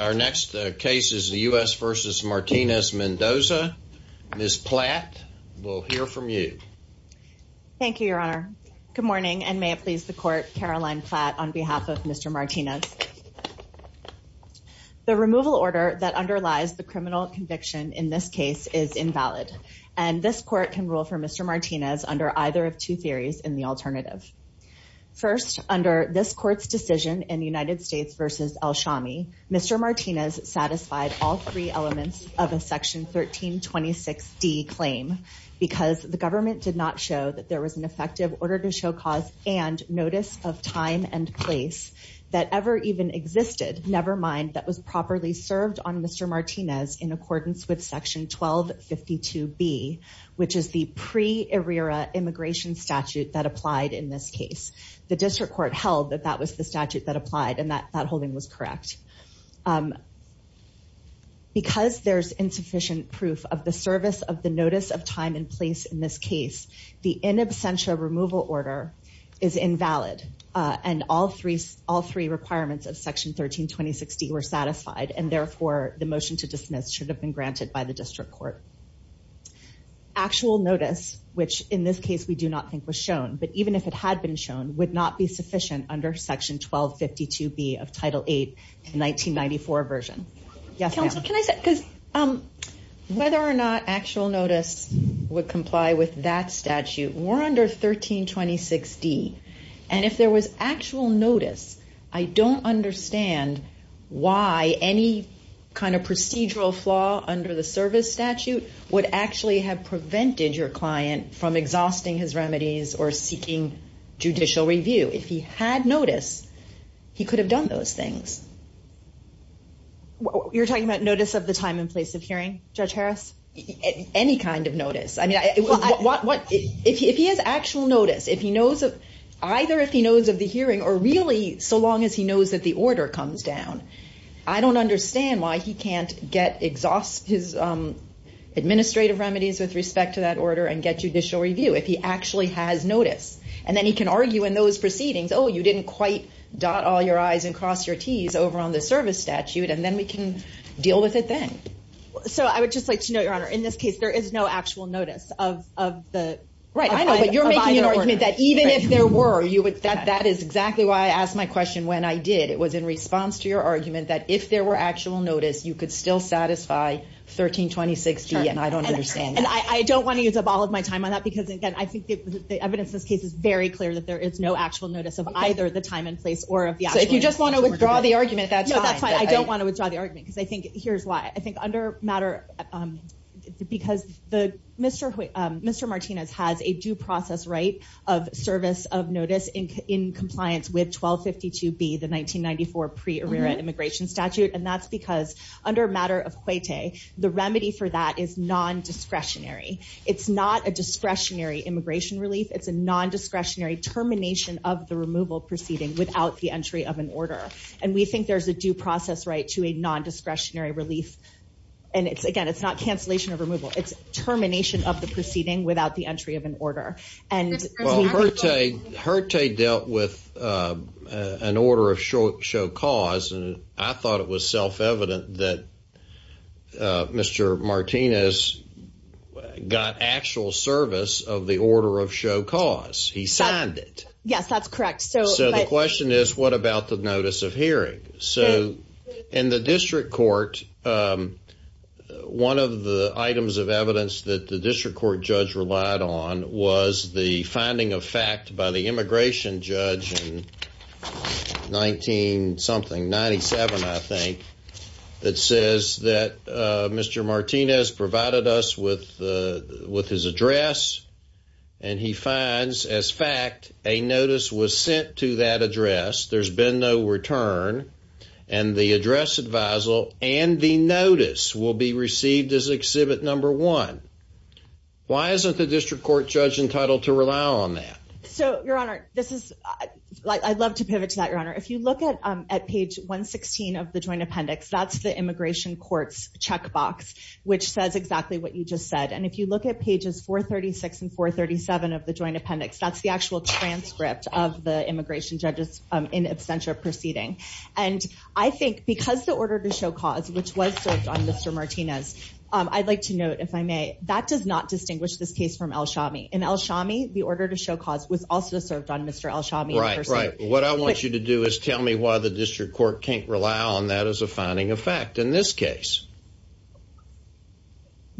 Our next case is the U.S. v. Martinez-Mendoza. Ms. Platt, we'll hear from you. Thank you, your honor. Good morning, and may it please the court, Caroline Platt on behalf of Mr. Martinez. The removal order that underlies the criminal conviction in this case is invalid, and this court can rule for Mr. Martinez under either of two theories in the alternative. First, under this court's decision in United States v. El Shami, Mr. Martinez satisfied all three elements of a section 1326D claim because the government did not show that there was an effective order to show cause and notice of time and place that ever even existed, nevermind that was properly served on Mr. Martinez in accordance with section 1252B, which is the pre-ERIRA immigration statute that applied in this case. The district court held that that was the statute that applied, and that holding was correct. Because there's insufficient proof of the service of the notice of time and place in this case, the in absentia removal order is invalid, and all three requirements of section 1326D were satisfied, and therefore, the motion to dismiss should have been granted by the district court. Actual notice, which in this case we do not think was shown, but even if it had been shown, would not be sufficient under section 1252B of Title VIII, 1994 version. Yes, ma'am. Council, can I say, because whether or not actual notice would comply with that statute, we're under 1326D, and if there was actual notice, I don't understand why any kind of procedural flaw under the service statute would actually have prevented your client from exhausting his remedies or seeking judicial review. If he had notice, he could have done those things. You're talking about notice of the time and place of hearing, Judge Harris? Any kind of notice. I mean, if he has actual notice, if he knows of, either if he knows of the hearing, or really, so long as he knows that the order comes down, I don't understand why he can't exhaust his administrative remedies with respect to that order and get judicial review if he actually has notice. And then he can argue in those proceedings, oh, you didn't quite dot all your I's and cross your T's over on the service statute, and then we can deal with it then. So I would just like to know, Your Honor, in this case, there is no actual notice of the... Right, I know, but you're making an argument that even if there were, that is exactly why I asked my question when I did. It was in response to your argument that if there were actual notice, you could still satisfy 1326D, and I don't understand that. And I don't want to use up all of my time on that, because again, I think the evidence in this case is very clear that there is no actual notice of either the time and place or of the actual... So if you just want to withdraw the argument, that's fine. No, that's fine. I don't want to withdraw the argument, because I think here's why. I think under matter, because Mr. Martinez has a due process right of service of notice in compliance with 1252B, the 1994 Pre-Arrera Immigration Statute, and that's because under matter of cuete, the remedy for that is non-discretionary. It's not a discretionary immigration relief. It's a non-discretionary termination of the removal proceeding without the entry of an order. And we think there's a due process right to a non-discretionary relief. And again, it's not cancellation of removal. It's termination of the proceeding without the entry of an order. And... Well, herte dealt with an order of show cause, and I thought it was self-evident that Mr. Martinez got actual service of the order of show cause. He signed it. Yes, that's correct. So the question is, what about the notice of hearing? So in the district court, one of the items of evidence that the district court judge relied on was the finding of fact by the immigration judge in 19-something, 97, I think, that says that Mr. Martinez provided us with his address. And he finds, as fact, a notice was sent to that address. There's been no return. And the address advisal and the notice will be received as exhibit number one. Why isn't the district court judge entitled to rely on that? So, Your Honor, this is... I'd love to pivot to that, Your Honor. If you look at page 116 of the joint appendix, that's the immigration court's checkbox, which says exactly what you just said. And if you look at pages 436 and 437 of the joint appendix, that's the actual transcript of the immigration judge's in absentia proceeding. And I think because the order to show cause, which was served on Mr. Martinez, I'd like to note, if I may, that does not distinguish this case from El Shami. In El Shami, the order to show cause was also served on Mr. El Shami in person. Right, right. What I want you to do is tell me why the district court can't rely on that as a founding effect in this case.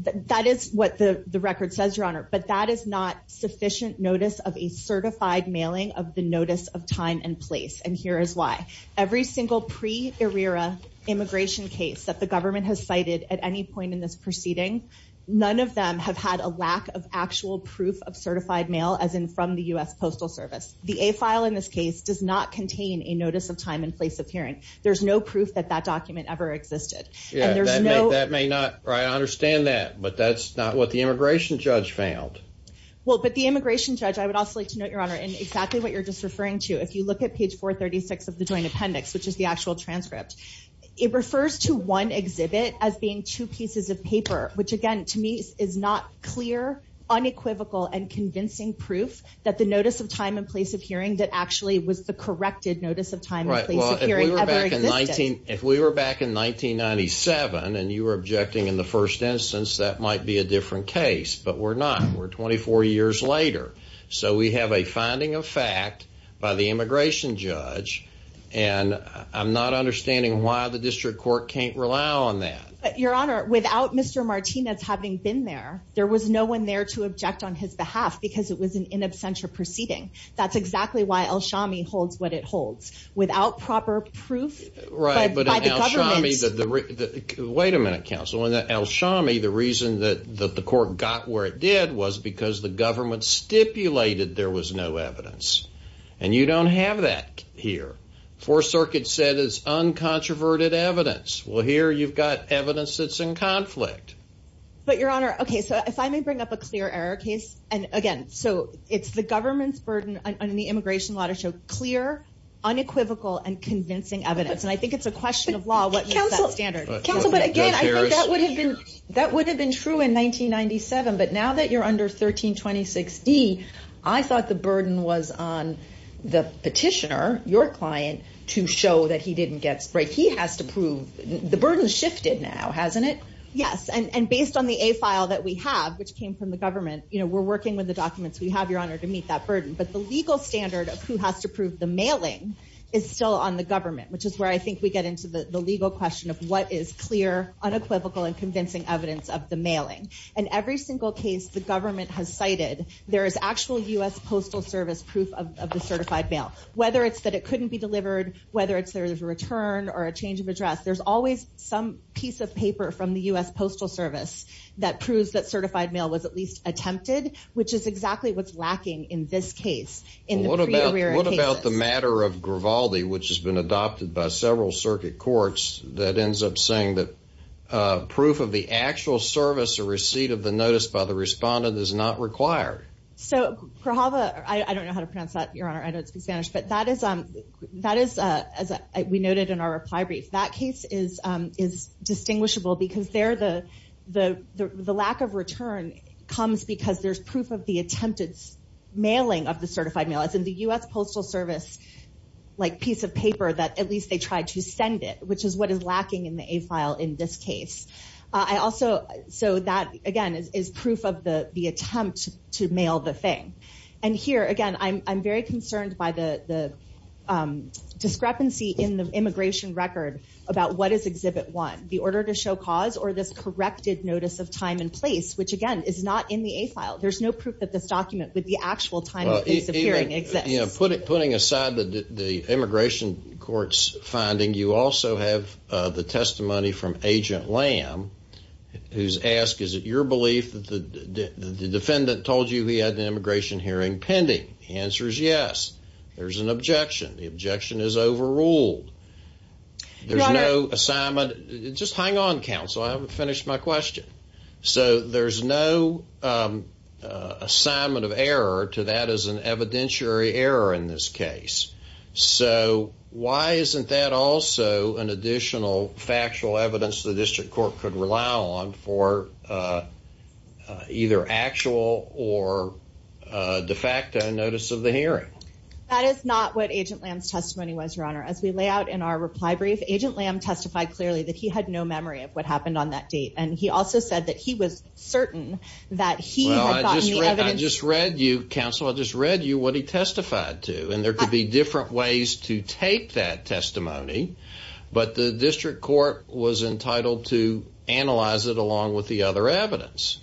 That is what the record says, Your Honor. But that is not sufficient notice of a certified mailing of the notice of time and place. And here is why. Every single pre-ERIRA immigration case that the government has cited at any point in this proceeding, none of them have had a lack of actual proof of certified mail, as in from the U.S. Postal Service. The A file in this case does not contain a notice of time and place of hearing. There's no proof that that document ever existed. And there's no- That may not, I understand that, but that's not what the immigration judge found. Well, but the immigration judge, I would also like to note, Your Honor, in exactly what you're just referring to, if you look at page 436 of the joint appendix, which is the actual transcript, it refers to one exhibit as being two pieces of paper, which again, to me, is not clear, unequivocal, and convincing proof that the notice of time and place of hearing that actually was the corrected notice of time and place of hearing ever existed. If we were back in 1997, and you were objecting in the first instance, that might be a different case. But we're not, we're 24 years later. So we have a finding of fact by the immigration judge, and I'm not understanding why the district court can't rely on that. But Your Honor, without Mr. Martinez having been there, there was no one there to object on his behalf because it was an in absentia proceeding. That's exactly why El Shami holds what it holds, without proper proof by the government. Right, but in El Shami, wait a minute, counsel, in El Shami, the reason that the court got where it did was because the government stipulated there was no evidence. And you don't have that here. Fourth Circuit said it's uncontroverted evidence. Well, here you've got evidence that's in conflict. But Your Honor, okay, so if I may bring up a clear error case, and again, so it's the government's burden on the immigration law to show clear, unequivocal, and convincing evidence. And I think it's a question of law, what makes that standard. Counsel, but again, I think that would have been, that would have been true in 1997. But now that you're under 1326D, I thought the burden was on the petitioner, your client, to show that he didn't get sprayed. He has to prove, the burden's shifted now, hasn't it? Yes, and based on the A file that we have, which came from the government, we're working with the documents we have, Your Honor, to meet that burden. But the legal standard of who has to prove the mailing is still on the government, which is where I think we get into the legal question of what is clear, unequivocal, and convincing evidence of the mailing. In every single case the government has cited, there is actual U.S. Postal Service proof of the certified mail. Whether it's that it couldn't be delivered, whether it's there's a return, or a change of address, there's always some piece of paper from the U.S. Postal Service that proves that certified mail was at least attempted, which is exactly what's lacking in this case, in the pre-arrear cases. Well, what about the matter of Gravaldi, which has been adopted by several circuit courts, that ends up saying that proof of the actual service or receipt of the notice by the respondent is not required? So Gravaldi, I don't know how to pronounce that, Your Honor, I don't speak Spanish, but that is, as we noted in our reply brief, that case is distinguishable because there the lack of return comes because there's proof of the attempted mailing of the certified mail. It's in the U.S. Postal Service piece of paper that at least they tried to send it, which is what is lacking in the A file in this case. So that, again, is proof of the attempt to mail the thing. And here, again, I'm very concerned by the discrepancy in the immigration record about what is Exhibit 1. The order to show cause or this corrected notice of time and place, which, again, is not in the A file. There's no proof that this document with the actual time and place of hearing exists. Putting aside the immigration court's finding, you also have the testimony from Agent Lamb, who's asked, is it your belief that the defendant told you he had an immigration hearing pending? The answer is yes. There's an objection. The objection is overruled. There's no assignment. Just hang on, counsel. I haven't finished my question. So there's no assignment of error to that as an evidentiary error in this case. So why isn't that also an additional factual evidence the district court could rely on for either actual or de facto notice of the hearing? That is not what Agent Lamb's testimony was, Your Honor. As we lay out in our reply brief, Agent Lamb testified clearly that he had no memory of what happened on that date. And he also said that he was certain that he had gotten the evidence. I just read you, counsel, I just read you what he testified to. And there could be different ways to take that testimony. But the district court was entitled to analyze it along with the other evidence.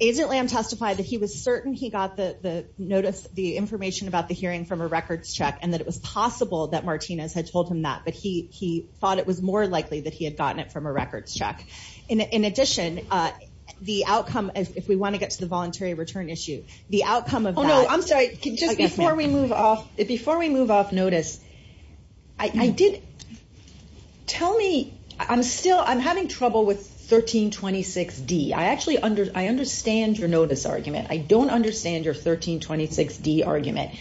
Agent Lamb testified that he was certain he got the notice, the information about the hearing from a records check and that it was possible that Martinez had told him that. But he thought it was more likely that he had gotten it from a records check. In addition, the outcome, if we want to get to the voluntary return issue, the outcome of that. Oh, no, I'm sorry. Just before we move off, before we move off notice, I did, tell me, I'm still, I'm having trouble with 1326D. I actually, I understand your notice argument. I don't understand your 1326D argument.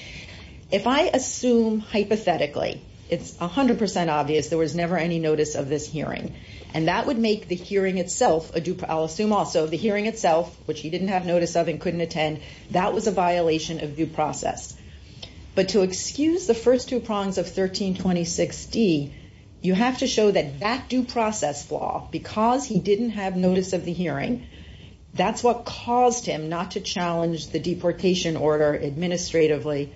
If I assume hypothetically, it's 100% obvious there was never any notice of this hearing. And that would make the hearing itself, I'll assume also, the hearing itself, which he didn't have notice of and couldn't attend, that was a violation of due process. But to excuse the first two prongs of 1326D, you have to show that that due process flaw, because he didn't have notice of the hearing, that's what caused him not to challenge the deportation order administratively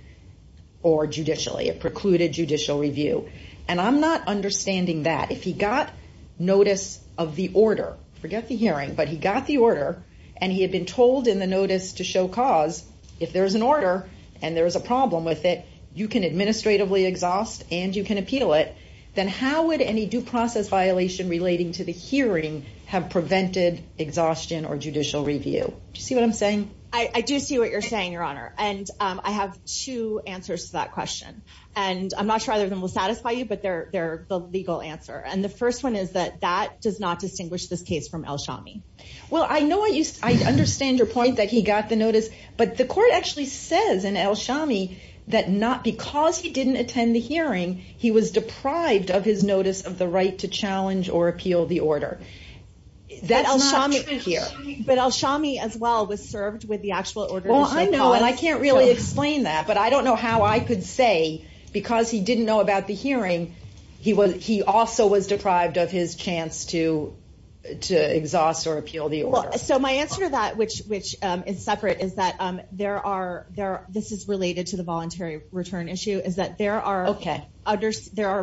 or judicially. It precluded judicial review. And I'm not understanding that. If he got notice of the order, forget the hearing, but he got the order, and he had been told in the notice to show cause, if there's an order and there's a problem with it, you can administratively exhaust and you can appeal it, then how would any due process violation relating to the hearing have prevented exhaustion or judicial review? Do you see what I'm saying? I do see what you're saying, Your Honor. And I have two answers to that question. And I'm not sure either of them will satisfy you, but they're the legal answer. And the first one is that, that does not distinguish this case from El Shami. Well, I know what you, I understand your point that he got the notice, but the court actually says in El Shami that not because he didn't attend the hearing, he was deprived of his notice of the right to challenge or appeal the order. That's not true here. But El Shami as well was served with the actual order to show cause. Well, I know, and I can't really explain that, but I don't know how I could say because he didn't know about the hearing, he also was deprived of his chance to exhaust or appeal the order. So my answer to that, which is separate, is that there are, this is related to the voluntary return issue, is that there are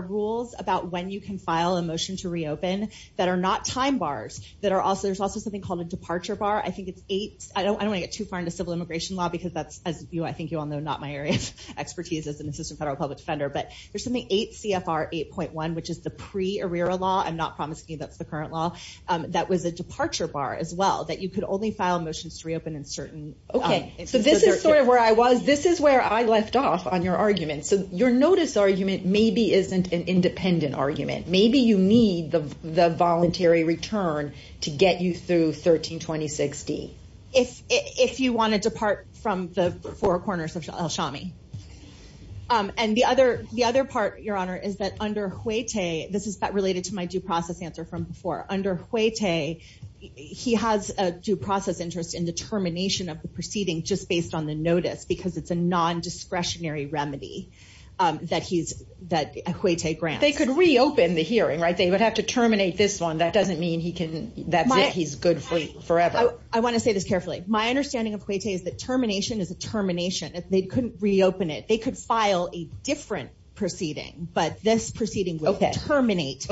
rules about when you can file a motion to reopen that are not time bars, that are also, there's also something called a departure bar. I think it's eight, I don't wanna get too far into civil immigration law because that's, as you, I think you all know, not my area of expertise as an assistant federal public defender, but there's something eight CFR 8.1, which is the pre-arrear law, I'm not promising you that's the current law, that was a departure bar as well, that you could only file motions to reopen in certain. Okay, so this is sort of where I was, this is where I left off on your argument. So your notice argument maybe isn't an independent argument. Maybe you need the voluntary return to get you through 1326D. If you wanna depart from the four corners of Al-Shami. And the other part, Your Honor, is that under Huete, this is related to my due process answer from before, under Huete, he has a due process interest in the termination of the proceeding just based on the notice, because it's a non-discretionary remedy that Huete grants. But they could reopen the hearing, right? They would have to terminate this one. That doesn't mean he can, that's it, he's good for forever. I wanna say this carefully. My understanding of Huete is that termination is a termination. They couldn't reopen it. They could file a different proceeding, but this proceeding will terminate.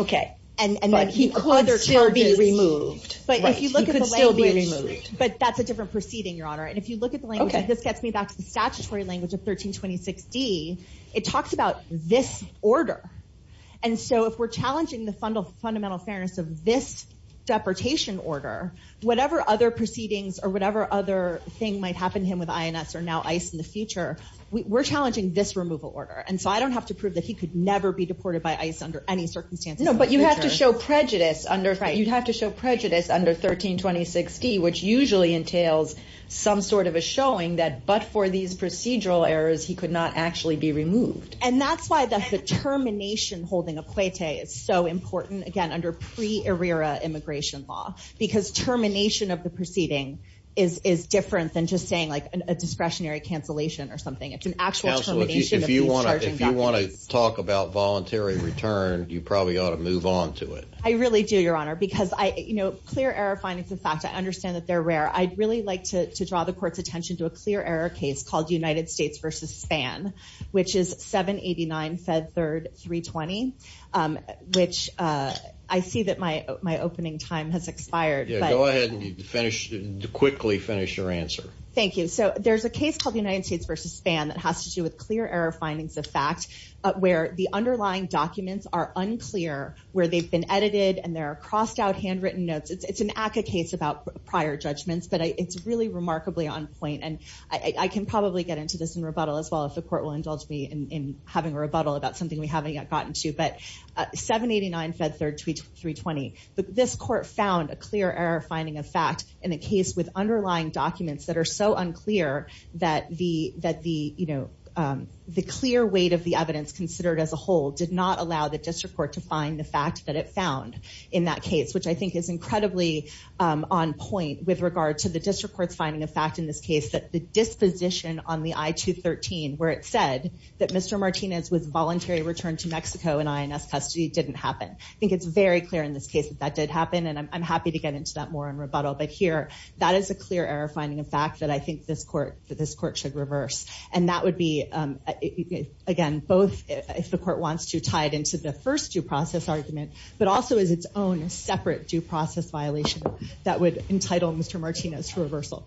And then he could still be removed. But if you look at the language, but that's a different proceeding, Your Honor. And if you look at the language, and this gets me back to the statutory language of 1326D, it talks about this order. And so if we're challenging the fundamental fairness of this deportation order, whatever other proceedings or whatever other thing might happen to him with INS or now ICE in the future, we're challenging this removal order. And so I don't have to prove that he could never be deported by ICE under any circumstances in the future. No, but you'd have to show prejudice under 1326D, which usually entails some sort of a showing that but for these procedural errors, he could not actually be removed. And that's why the termination holding a cuete is so important, again, under pre-ARRERA immigration law, because termination of the proceeding is different than just saying like a discretionary cancellation or something. It's an actual termination of these charging documents. Counsel, if you want to talk about voluntary return, you probably ought to move on to it. I really do, Your Honor, because clear error findings, in fact, I understand that they're rare. I'd really like to draw the court's attention to a clear error case called United States versus Span, which is 789 Fed Third 320, which I see that my opening time has expired. Yeah, go ahead and quickly finish your answer. Thank you. So there's a case called United States versus Span that has to do with clear error findings of fact, where the underlying documents are unclear, where they've been edited and there are crossed out handwritten notes. It's an ACCA case about prior judgments, but it's really remarkably on point. And I can probably get into this in rebuttal as well, if the court will indulge me in having a rebuttal about something we haven't yet gotten to, but 789 Fed Third 320, but this court found a clear error finding of fact in a case with underlying documents that are so unclear that the clear weight of the evidence considered as a whole did not allow the district court to find the fact that it found in that case, which I think is incredibly on point with regard to the district court's finding of fact in this case that the disposition on the I-213, where it said that Mr. Martinez was voluntary returned to Mexico in INS custody, didn't happen. I think it's very clear in this case that that did happen and I'm happy to get into that more in rebuttal, but here, that is a clear error finding of fact that I think this court should reverse. And that would be, again, both if the court wants to tie it into the first due process argument, but also as its own separate due process violation that would entitle Mr. Martinez to reversal.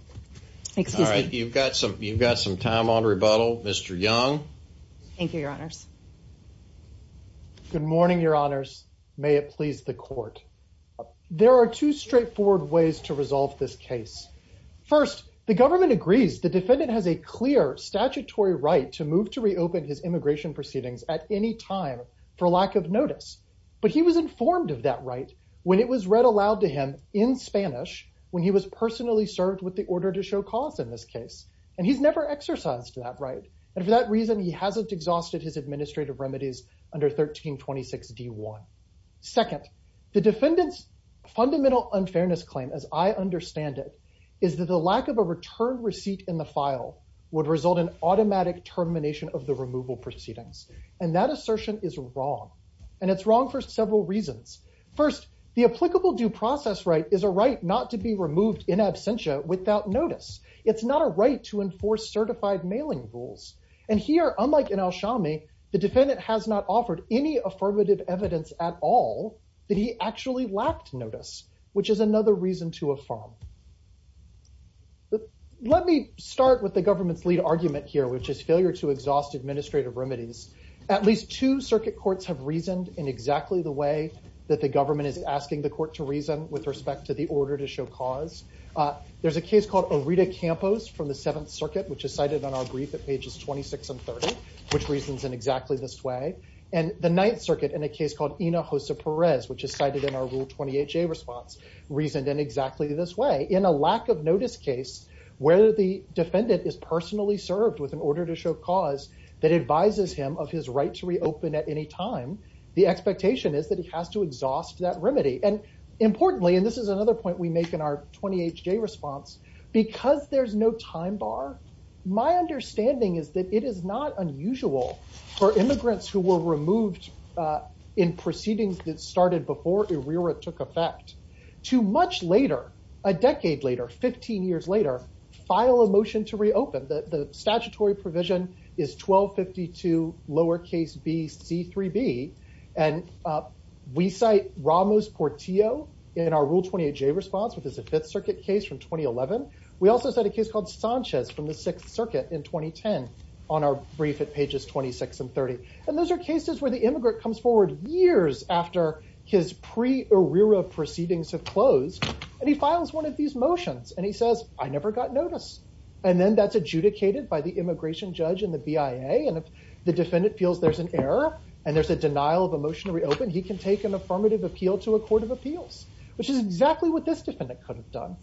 All right, you've got some time on rebuttal, Mr. Young. Thank you, your honors. Good morning, your honors. May it please the court. There are two straightforward ways to resolve this case. First, the government agrees the defendant has a clear statutory right to move to reopen his immigration proceedings at any time for lack of notice, but he was informed of that right when it was read aloud to him in Spanish when he was personally served with the order to show cause in this case. And he's never exercised that right. And for that reason, he hasn't exhausted his administrative remedies under 1326 D1. Second, the defendant's fundamental unfairness claim, as I understand it, is that the lack of a return receipt in the file would result in automatic termination of the removal proceedings. And that assertion is wrong. And it's wrong for several reasons. First, the applicable due process right is a right not to be removed in absentia without notice. It's not a right to enforce certified mailing rules. And here, unlike in El Shami, the defendant has not offered any affirmative evidence at all that he actually lacked notice, which is another reason to affirm. Let me start with the government's lead argument here, which is failure to exhaust administrative remedies. At least two circuit courts have reasoned in exactly the way that the government is asking the court to reason with respect to the order to show cause. There's a case called Orita Campos from the Seventh Circuit, which is cited on our brief at pages 26 and 30, which reasons in exactly this way. And the Ninth Circuit, in a case called Ina Jose Perez, which is cited in our Rule 28J response, reasoned in exactly this way. In a lack of notice case, where the defendant is personally served with an order to show cause that advises him of his right to reopen at any time, the expectation is that he has to exhaust that remedy. And importantly, and this is another point that we make in our 28J response, because there's no time bar, my understanding is that it is not unusual for immigrants who were removed in proceedings that started before ERIRA took effect to much later, a decade later, 15 years later, file a motion to reopen. The statutory provision is 1252 lowercase b c 3b. And we cite Ramos Portillo in our Rule 28J response, which is a Fifth Circuit case from 2011. We also set a case called Sanchez from the Sixth Circuit in 2010, on our brief at pages 26 and 30. And those are cases where the immigrant comes forward years after his pre-ERIRA proceedings have closed, and he files one of these motions, and he says, I never got notice. And then that's adjudicated by the immigration judge and the BIA, and if the defendant feels there's an error, and there's a denial of a motion to reopen, he can take an affirmative appeal to a court of appeals, which is exactly what this defendant could have done.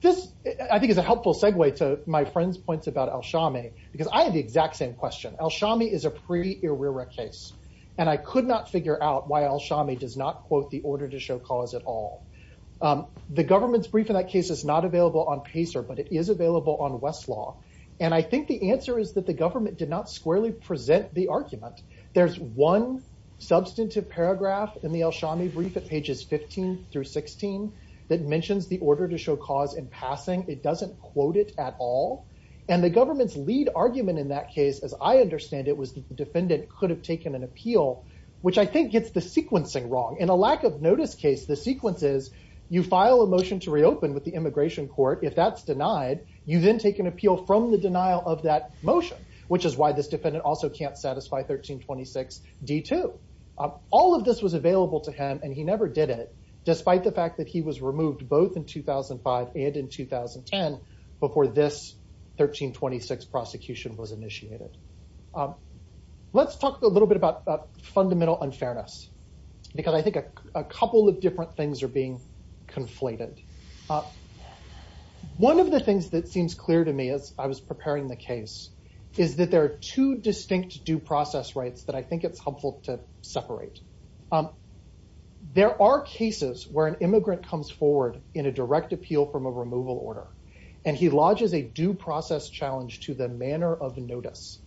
This, I think, is a helpful segue to my friend's points about Alshami, because I have the exact same question. Alshami is a pre-ERIRA case, and I could not figure out why Alshami does not quote the order to show cause at all. The government's brief in that case is not available on PACER, but it is available on Westlaw. And I think the answer is that the government did not squarely present the argument. There's one substantive paragraph in the Alshami brief at pages 15 through 16 that mentions the order to show cause in passing. It doesn't quote it at all. And the government's lead argument in that case, as I understand it, was the defendant could have taken an appeal, which I think gets the sequencing wrong. In a lack of notice case, the sequence is, you file a motion to reopen with the immigration court. If that's denied, you then take an appeal from the denial of that motion, which is why this defendant also can't satisfy 1326 D2. All of this was available to him, and he never did it, despite the fact that he was removed both in 2005 and in 2010 before this 1326 prosecution was initiated. Let's talk a little bit about fundamental unfairness, because I think a couple of different things are being conflated. One of the things that seems clear to me as I was preparing the case is that there are two distinct due process rights that I think it's helpful to separate. There are cases where an immigrant comes forward in a direct appeal from a removal order, and he lodges a due process challenge to the manner of notice.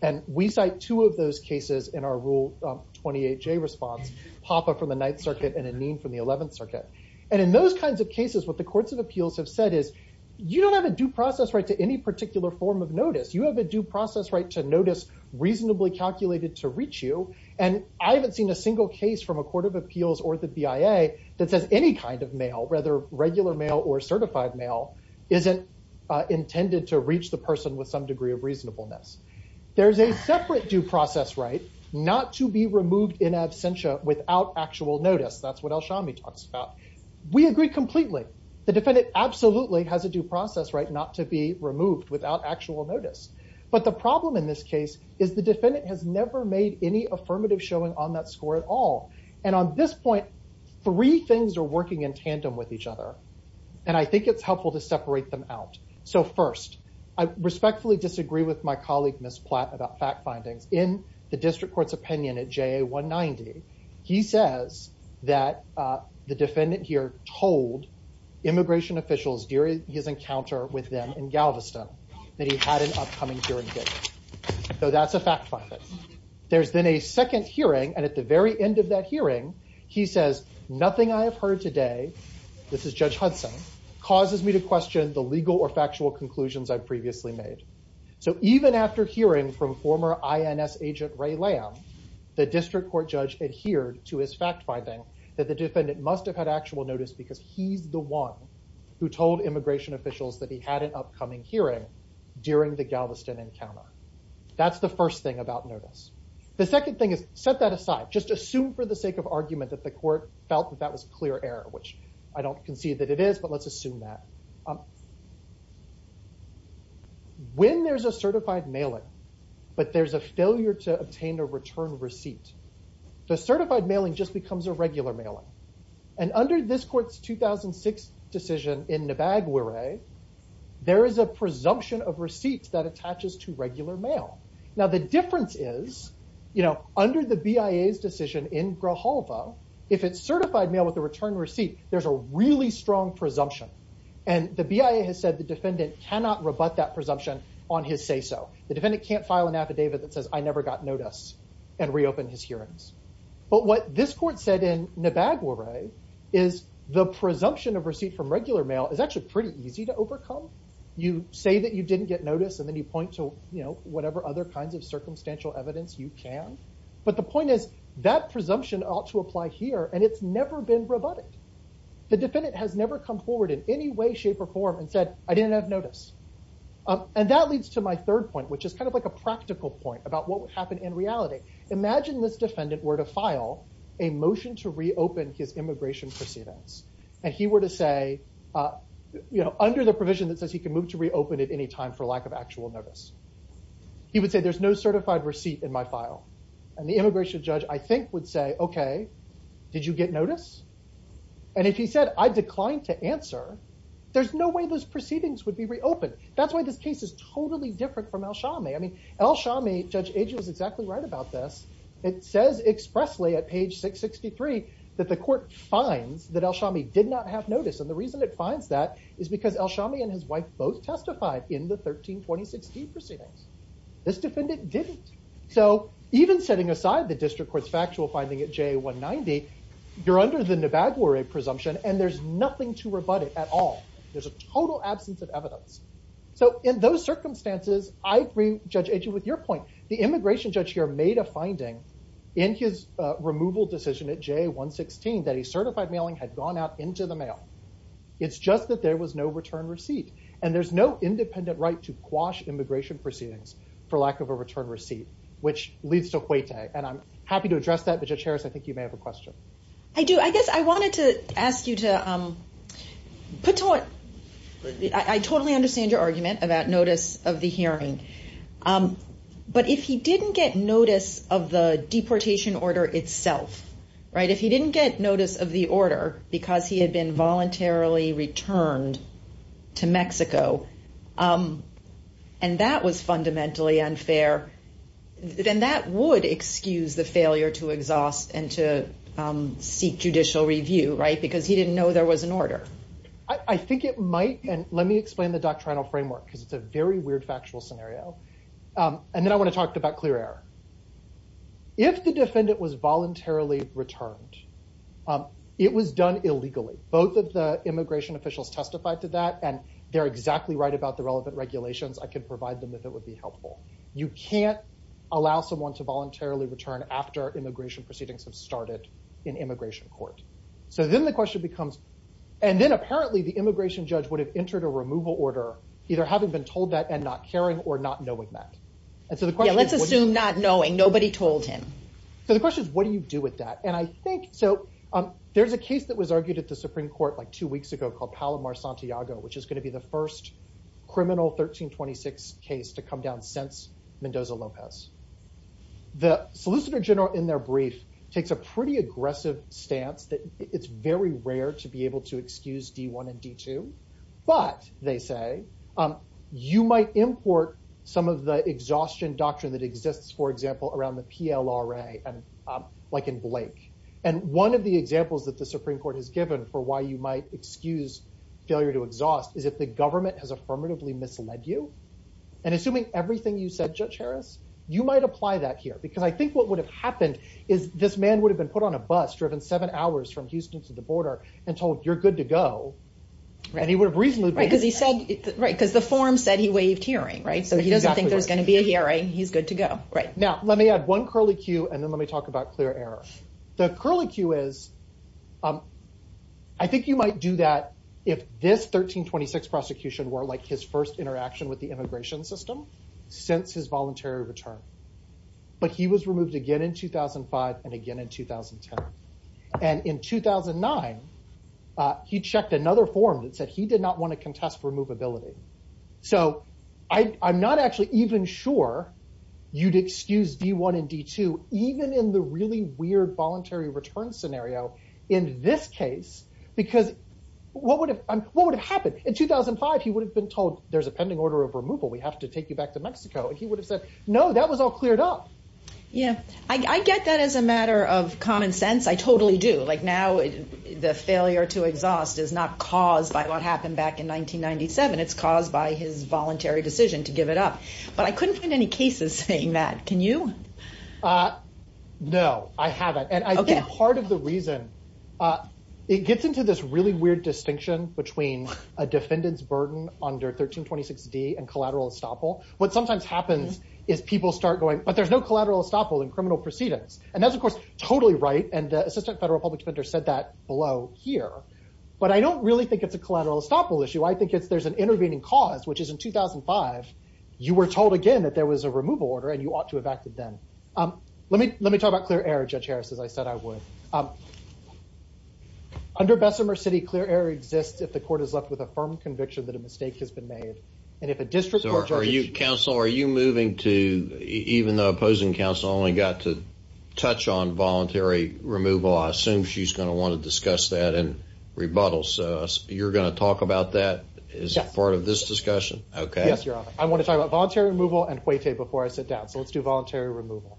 And we cite two of those cases in our Rule 28J response, Hoppe from the Ninth Circuit and Aneen from the Eleventh Circuit. And in those kinds of cases, what the courts of appeals have said is, you don't have a due process right to any particular form of notice. You have a due process right to notice reasonably calculated to reach you, and I haven't seen a single case from a court of appeals or the BIA that says any kind of mail, whether regular mail or certified mail, isn't intended to reach the person with some degree of reasonableness. There's a separate due process right not to be removed in absentia without actual notice. That's what El Shami talks about. We agree completely. The defendant absolutely has a due process right not to be removed without actual notice. But the problem in this case is the defendant has never made any affirmative showing on that score at all. And on this point, three things are working in tandem with each other, and I think it's helpful to separate them out. So first, I respectfully disagree with my colleague, Ms. Platt, about fact findings. In the district court's opinion at JA 190, he says that the defendant here told immigration officials during his encounter with them in Galveston that he had an upcoming hearing date. So that's a fact finding. There's then a second hearing, and at the very end of that hearing, he says, nothing I have heard today, this is Judge Hudson, causes me to question the legal or factual conclusions I've previously made. So even after hearing from former INS agent Ray Lamb, the district court judge adhered to his fact finding that the defendant must have had actual notice because he's the one who told immigration officials that he had an upcoming hearing during the Galveston encounter. That's the first thing about notice. The second thing is, set that aside. Just assume for the sake of argument that the court felt that that was clear error, which I don't concede that it is, but let's assume that. When there's a certified mailing, but there's a failure to obtain a return receipt, the certified mailing just becomes a regular mailing. And under this court's 2006 decision in Nibagware, there is a presumption of receipts that attaches to regular mail. Now the difference is, under the BIA's decision in Grijalva, if it's certified mail with a return receipt, there's a really strong presumption. And the BIA has said the defendant cannot rebut that presumption on his say so. The defendant can't file an affidavit that says I never got notice and reopen his hearings. But what this court said in Nibagware is the presumption of receipt from regular mail is actually pretty easy to overcome. You say that you didn't get notice and then you point to whatever other kinds of circumstantial evidence you can. But the point is, that presumption ought to apply here and it's never been rebutted. The defendant has never come forward in any way, shape, or form and said, I didn't have notice. And that leads to my third point, which is kind of like a practical point about what would happen in reality. Imagine this defendant were to file a motion to reopen his immigration proceedings and he were to say, under the provision that says he can move to reopen at any time for lack of actual notice. He would say, there's no certified receipt in my file. And the immigration judge, I think, would say, okay, did you get notice? And if he said, I declined to answer, there's no way those proceedings would be reopened. That's why this case is totally different from El Shami. I mean, El Shami, Judge Agee was exactly right about this. It says expressly at page 663 that the court finds that El Shami did not have notice. And the reason it finds that is because El Shami and his wife both testified in the 13-2016 proceedings. This defendant didn't. So even setting aside the district court's factual finding at JA-190, you're under the Nevaguare presumption and there's nothing to rebut it at all. There's a total absence of evidence. So in those circumstances, I agree, Judge Agee, with your point. The immigration judge here made a finding in his removal decision at JA-116 that a certified mailing had gone out into the mail. It's just that there was no return receipt. And there's no independent right to quash immigration proceedings for lack of a return receipt, which leads to huete. And I'm happy to address that, but Judge Harris, I think you may have a question. I do. I guess I wanted to ask you to put to work. I totally understand your argument about notice of the hearing. But if he didn't get notice of the deportation order itself, if he didn't get notice of the order because he had been voluntarily returned to Mexico and that was fundamentally unfair, then that would excuse the failure to exhaust and to seek judicial review, because he didn't know there was an order. I think it might. And let me explain the doctrinal framework, because it's a very weird factual scenario. And then I want to talk about clear error. If the defendant was voluntarily returned, it was done illegally. Both of the immigration officials testified to that. And they're exactly right about the relevant regulations. I could provide them if it would be helpful. You can't allow someone to voluntarily return after immigration proceedings have started in immigration court. So then the question becomes, and then apparently the immigration judge would have entered a removal order, either having been told that and not caring or not knowing that. And so the question is, what do you do with that? And I think, so there's a case that was argued at the Supreme Court like two weeks ago called Palomar-Santiago, which is going to be the first criminal 1326 case to come down since Mendoza-Lopez. The Solicitor General in their brief takes a pretty aggressive stance that it's very rare to be able to excuse D-1 and D-2. But, they say, you might import some of the exhaustion doctrine that exists, for example, around the PLRA, like in Blake. And one of the examples that the Supreme Court has given for why you might excuse failure to exhaust is if the government has affirmatively misled you. And assuming everything you said, Judge Harris, you might apply that here. Because I think what would have happened is this man would have been put on a bus, driven seven hours from Houston to the border, and told, you're good to go. And he would have reasonably been. Right, because the form said he waived hearing. So he doesn't think there's going to be a hearing. He's good to go. Now, let me add one curly Q, and then let me talk about clear error. The curly Q is, I think you might do that if this 1326 prosecution were like his first interaction with the immigration system since his voluntary return. But he was removed again in 2005, and again in 2010. And in 2009, he checked another form that said he did not want to contest removability. So I'm not actually even sure you'd excuse D1 and D2, even in the really weird voluntary return scenario in this case. Because what would have happened? In 2005, he would have been told, there's a pending order of removal. We have to take you back to Mexico. And he would have said, no, that was all cleared up. Yeah, I get that as a matter of common sense. I totally do. Like now, the failure to exhaust is not caused by what happened back in 1997. It's caused by his voluntary decision to give it up. But I couldn't find any cases saying that. Can you? No, I haven't. And I think part of the reason, it gets into this really weird distinction between a defendant's burden under 1326D and collateral estoppel. What sometimes happens is people start going, but there's no collateral estoppel in criminal proceedings. And that's, of course, totally right. And the assistant federal public defender said that below here. But I don't really think it's a collateral estoppel issue. I think there's an intervening cause, which is in 2005, you were told again that there was a removal order, and you ought to have acted then. Let me talk about clear error, Judge Harris, as I said I would. Under Bessemer City, clear error exists if the court is left with a firm conviction that a mistake has been made. And if a district court judge. Counsel, are you moving to, even though opposing counsel only got to touch on voluntary removal, I assume she's going to want to discuss that in rebuttal. So you're going to talk about that as part of this discussion? Yes, Your Honor. I want to talk about voluntary removal and fuete before I sit down. So let's do voluntary removal.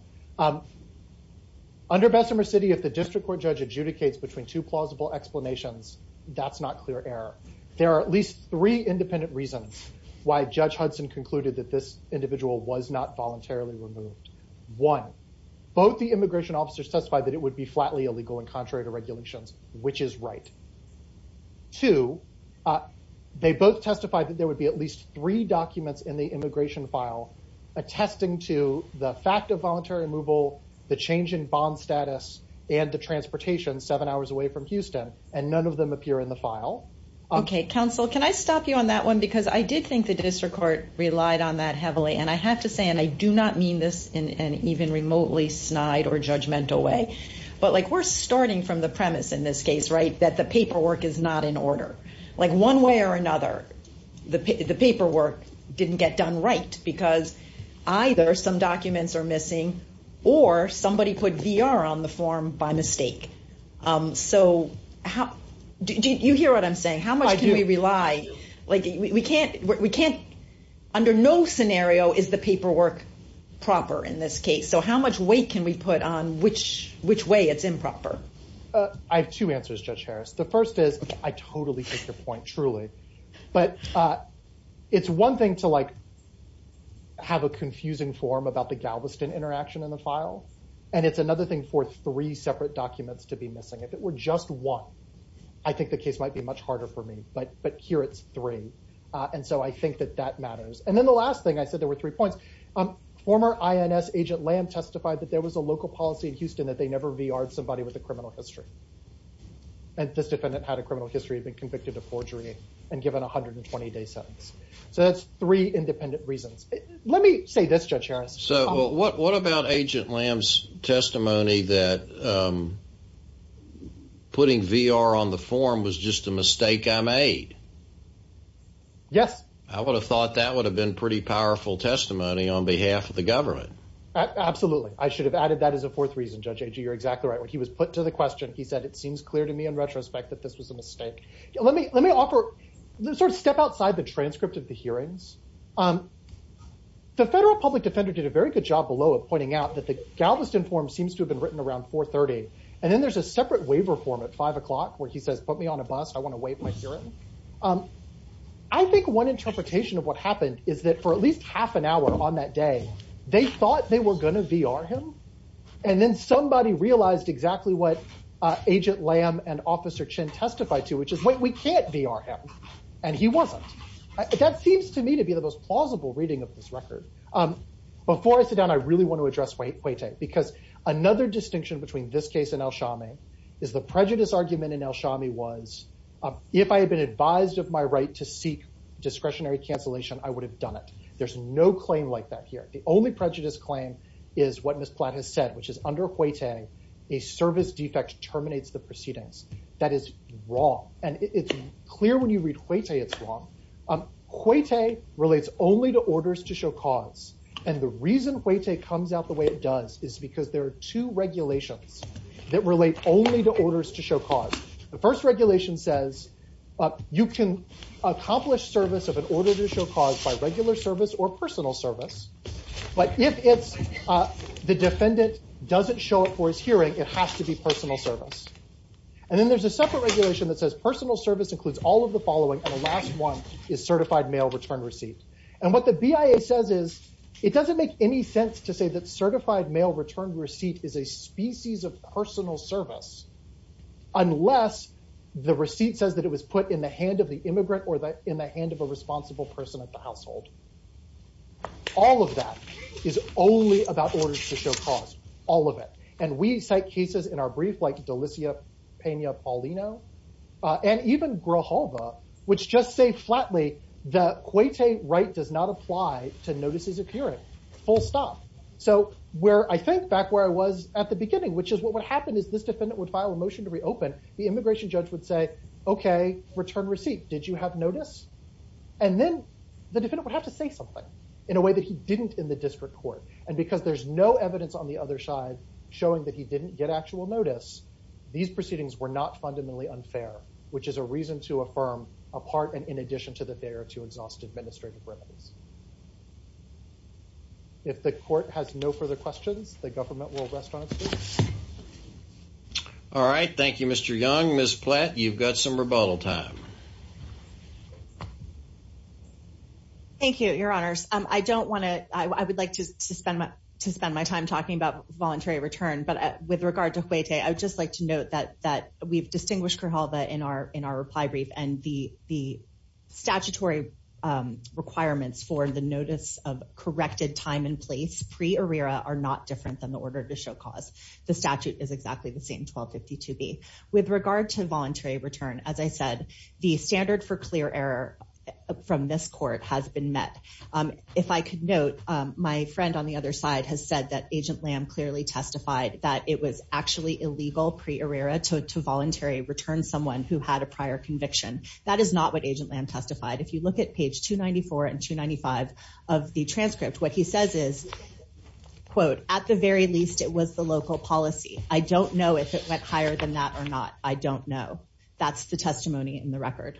Under Bessemer City, if the district court judge adjudicates between two plausible explanations, that's not clear error. There are at least three independent reasons why Judge Hudson concluded that this individual was not voluntarily removed. One, both the immigration officers testified that it would be flatly illegal and contrary to regulations, which is right. Two, they both testified that there would be at least three documents in the immigration file attesting to the fact of voluntary removal, the change in bond status, and the transportation seven hours away from Houston. And none of them appear in the file. OK, counsel, can I stop you on that one? Because I did think the district court relied on that heavily. And I have to say, and I do not mean this in an even remotely snide or judgmental way, but we're starting from the premise in this case, that the paperwork is not in order. One way or another, the paperwork didn't get done right, because either some documents are missing, or somebody put VR on the form by mistake. So do you hear what I'm saying? How much can we rely? Like, we can't, under no scenario is the paperwork proper in this case. So how much weight can we put on which way it's improper? I have two answers, Judge Harris. The first is, I totally get your point, truly. But it's one thing to have a confusing form about the Galveston interaction in the file. And it's another thing for three separate documents to be missing. If it were just one, I think the case might be much harder for me. But here it's three. And so I think that that matters. And then the last thing, I said there were three points. Former INS Agent Lamb testified that there was a local policy in Houston that they never VR'd somebody with a criminal history. And this defendant had a criminal history, had been convicted of forgery, and given 120 day sentence. So that's three independent reasons. Let me say this, Judge Harris. So what about Agent Lamb's testimony that putting VR on the form was just a mistake I made? Yes. I would have thought that would have been pretty powerful testimony on behalf of the government. Absolutely. I should have added that as a fourth reason, Judge Agee. You're exactly right. When he was put to the question, he said it seems clear to me in retrospect that this was a mistake. Let me offer, sort of step outside the transcript of the hearings. The federal public defender did a very good job below of pointing out that the Galveston form seems to have been written around 4.30. And then there's a separate waiver form at 5 o'clock where he says, put me on a bus. I want to waive my hearing. I think one interpretation of what happened is that for at least half an hour on that day, they thought they were going to VR him. And then somebody realized exactly what Agent Lamb and Officer Chin testified to, which is, wait, we can't VR him. And he wasn't. That seems to me to be the most plausible reading of this record. Before I sit down, I really want to address Hueyta. Because another distinction between this case and El Shami is the prejudice argument in El Shami was, if I had been advised of my right to seek discretionary cancellation, I would have done it. There's no claim like that here. The only prejudice claim is what Ms. Platt has said, which is under Hueyta, a service defect terminates the proceedings. That is wrong. And it's clear when you read Hueyta it's wrong. Hueyta relates only to orders to show cause. And the reason Hueyta comes out the way it does is because there are two regulations that relate only to orders to show cause. The first regulation says, you can accomplish service of an order to show cause by regular service or personal service. But if the defendant doesn't show up for his hearing, it has to be personal service. And then there's a separate regulation that says personal service includes all of the following. And the last one is certified mail return receipt. And what the BIA says is, it doesn't make any sense to say that certified mail return receipt is a species of personal service unless the receipt says that it was put in the hand of the immigrant or in the hand of a responsible person at the household. All of that is only about orders to show cause, all of it. And we cite cases in our brief like Delicia Pena Paulino and even Grohova, which just say flatly that Hueyta right does not apply to notices of hearing, full stop. So where I think back where I was at the beginning, which is what would happen is this defendant would file a motion to reopen. The immigration judge would say, OK, return receipt. Did you have notice? And then the defendant would have to say something in a way that he didn't in the district court. And because there's no evidence on the other side showing that he didn't get actual notice, these proceedings were not fundamentally unfair, which is a reason to affirm a part and in addition to the fair to exhaust administrative remedies. If the court has no further questions, the government will rest on its feet. All right, thank you, Mr. Young. Ms. Platt, you've got some rebuttal time. Thank you, your honors. I don't want to, I would like to suspend my time talking about voluntary return. But with regard to Hueyta, I would just like to note that we've distinguished Curhalva in our reply brief. And the statutory requirements for the notice of corrected time and place pre-arrera are not different than the order to show cause. The statute is exactly the same, 1252B. With regard to voluntary return, as I said, the standard for clear error from this court has been met. If I could note, my friend on the other side has said that Agent Lamb clearly testified that it was actually illegal pre-arrera to voluntary return someone who had a prior conviction. That is not what Agent Lamb testified. If you look at page 294 and 295 of the transcript, what he says is, quote, at the very least, it was the local policy. I don't know if it went higher than that or not. I don't know. That's the testimony in the record.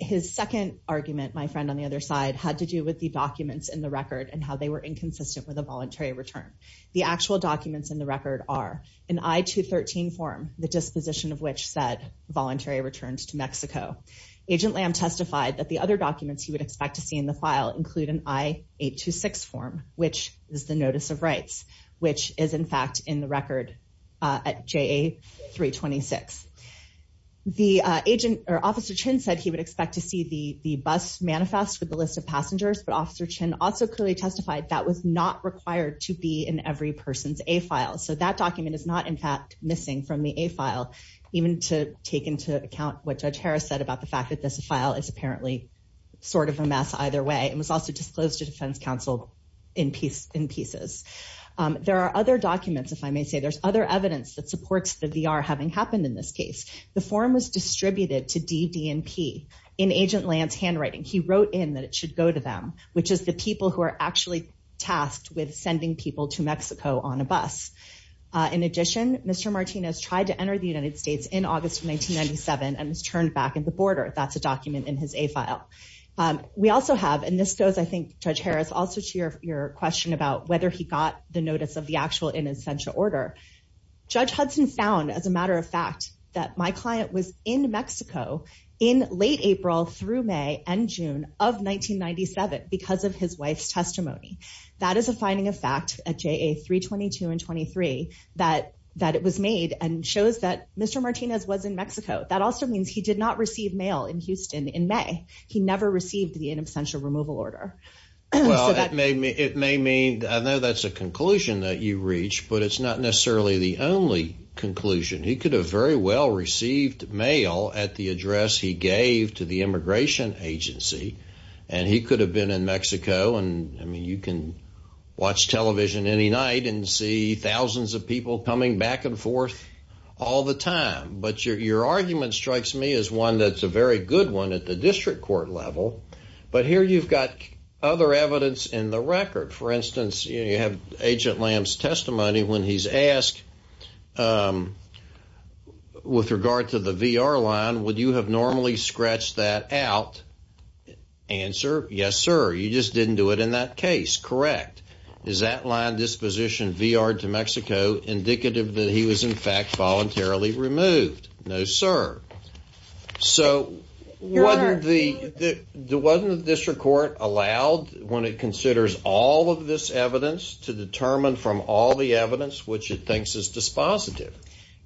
His second argument, my friend on the other side, had to do with the documents in the record and how they were inconsistent with a voluntary return. The actual documents in the record are an I-213 form, the disposition of which said voluntary returns to Mexico. Agent Lamb testified that the other documents he would expect to see in the file include an I-826 form, which is the notice of rights, which is, in fact, in the record at JA-326. The agent, or Officer Chin said he would expect to see the bus manifest with the list of passengers, but Officer Chin also clearly testified that was not required to be in every person's A-file. So that document is not, in fact, missing from the A-file, even to take into account what Judge Harris said about the fact that this file is apparently sort of a mess either way. It was also disclosed to defense counsel in pieces. There are other documents, if I may say. There's other evidence that supports the VR having happened in this case. The form was distributed to D, D, and P in Agent Lamb's handwriting. He wrote in that it should go to them, which is the people who are actually tasked with sending people to Mexico on a bus. In addition, Mr. Martinez tried to enter the United States in August of 1997 and was turned back at the border. That's a document in his A-file. We also have, and this goes, I think, Judge Harris, also to your question about whether he got the notice of the actual in absentia order. Judge Hudson found, as a matter of fact, that my client was in Mexico in late April through May and June of 1997 because of his wife's testimony. That is a finding of fact at JA 322 and 23 that it was made and shows that Mr. Martinez was in Mexico. That also means he did not receive mail in Houston in May. He never received the in absentia removal order. So that- It may mean, I know that's a conclusion that you reach, but it's not necessarily the only conclusion. He could have very well received mail at the address he gave to the immigration agency, and he could have been in Mexico. And, I mean, you can watch television any night and see thousands of people coming back and forth all the time. But your argument strikes me as one that's a very good one at the district court level. But here you've got other evidence in the record. For instance, you have Agent Lamb's testimony when he's asked with regard to the VR line would you have normally scratched that out? Answer, yes, sir. You just didn't do it in that case. Correct. Is that line disposition VR to Mexico indicative that he was in fact voluntarily removed? No, sir. So wasn't the district court allowed when it considers all of this evidence which it thinks is dispositive?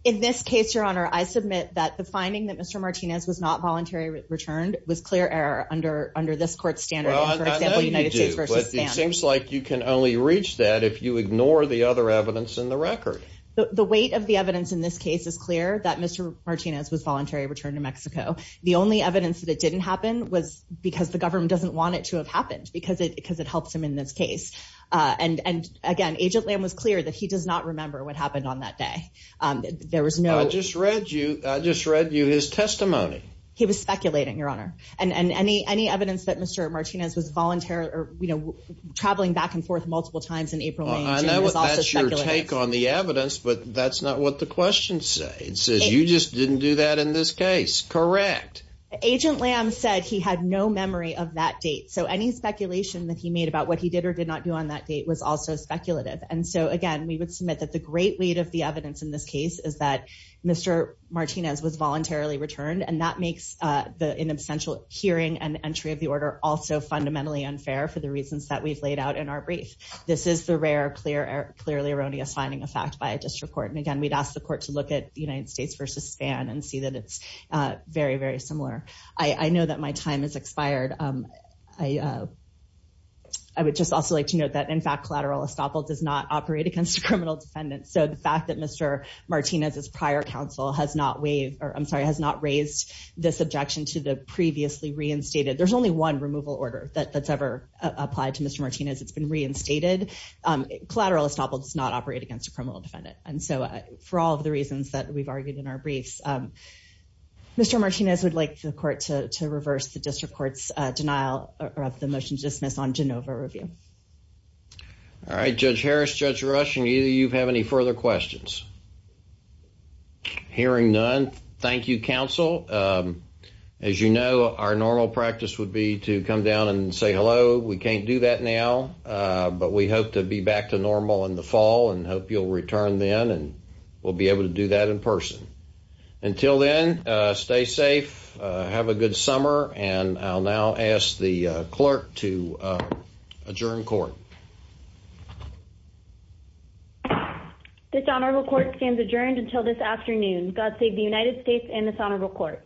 In this case, your honor, I submit that the finding that Mr. Martinez was not voluntarily returned was clear error under this court's standard. Well, I know you do, but it seems like you can only reach that if you ignore the other evidence in the record. The weight of the evidence in this case is clear that Mr. Martinez was voluntarily returned to Mexico. The only evidence that it didn't happen was because the government doesn't want it to have happened because it helps him in this case. And, again, Agent Lamb was clear that he does not remember what happened on that day. There was no- I just read you his testimony. He was speculating, your honor. And any evidence that Mr. Martinez was voluntarily traveling back and forth multiple times in April and June was also speculative. I know that's your take on the evidence, but that's not what the questions say. It says you just didn't do that in this case. Correct. Agent Lamb said he had no memory of that date. So any speculation that he made about what he did or did not do on that date was also speculative. And so, again, we would submit that the great weight of the evidence in this case is that Mr. Martinez was voluntarily returned, and that makes an essential hearing and entry of the order also fundamentally unfair for the reasons that we've laid out in our brief. This is the rare, clearly erroneous finding of fact by a district court. And, again, we'd ask the court to look at the United States versus Spain and see that it's very, very similar. I know that my time has expired. I would just also like to note that, in fact, collateral estoppel does not operate against a criminal defendant. So the fact that Mr. Martinez's prior counsel has not raised this objection to the previously reinstated, there's only one removal order that's ever applied to Mr. Martinez. It's been reinstated. Collateral estoppel does not operate against a criminal defendant. And so, for all of the reasons that we've argued in our briefs, Mr. Martinez would like the court to reverse the district court's denial of the motion to dismiss on Genova review. All right, Judge Harris, Judge Rush, and either of you have any further questions? Hearing none, thank you, counsel. As you know, our normal practice would be to come down and say hello. We can't do that now, but we hope to be back to normal in the fall and hope you'll return then and we'll be able to do that in person. Until then, stay safe, have a good summer, and I'll now ask the clerk to adjourn court. This honorable court stands adjourned until this afternoon. God save the United States and this honorable court.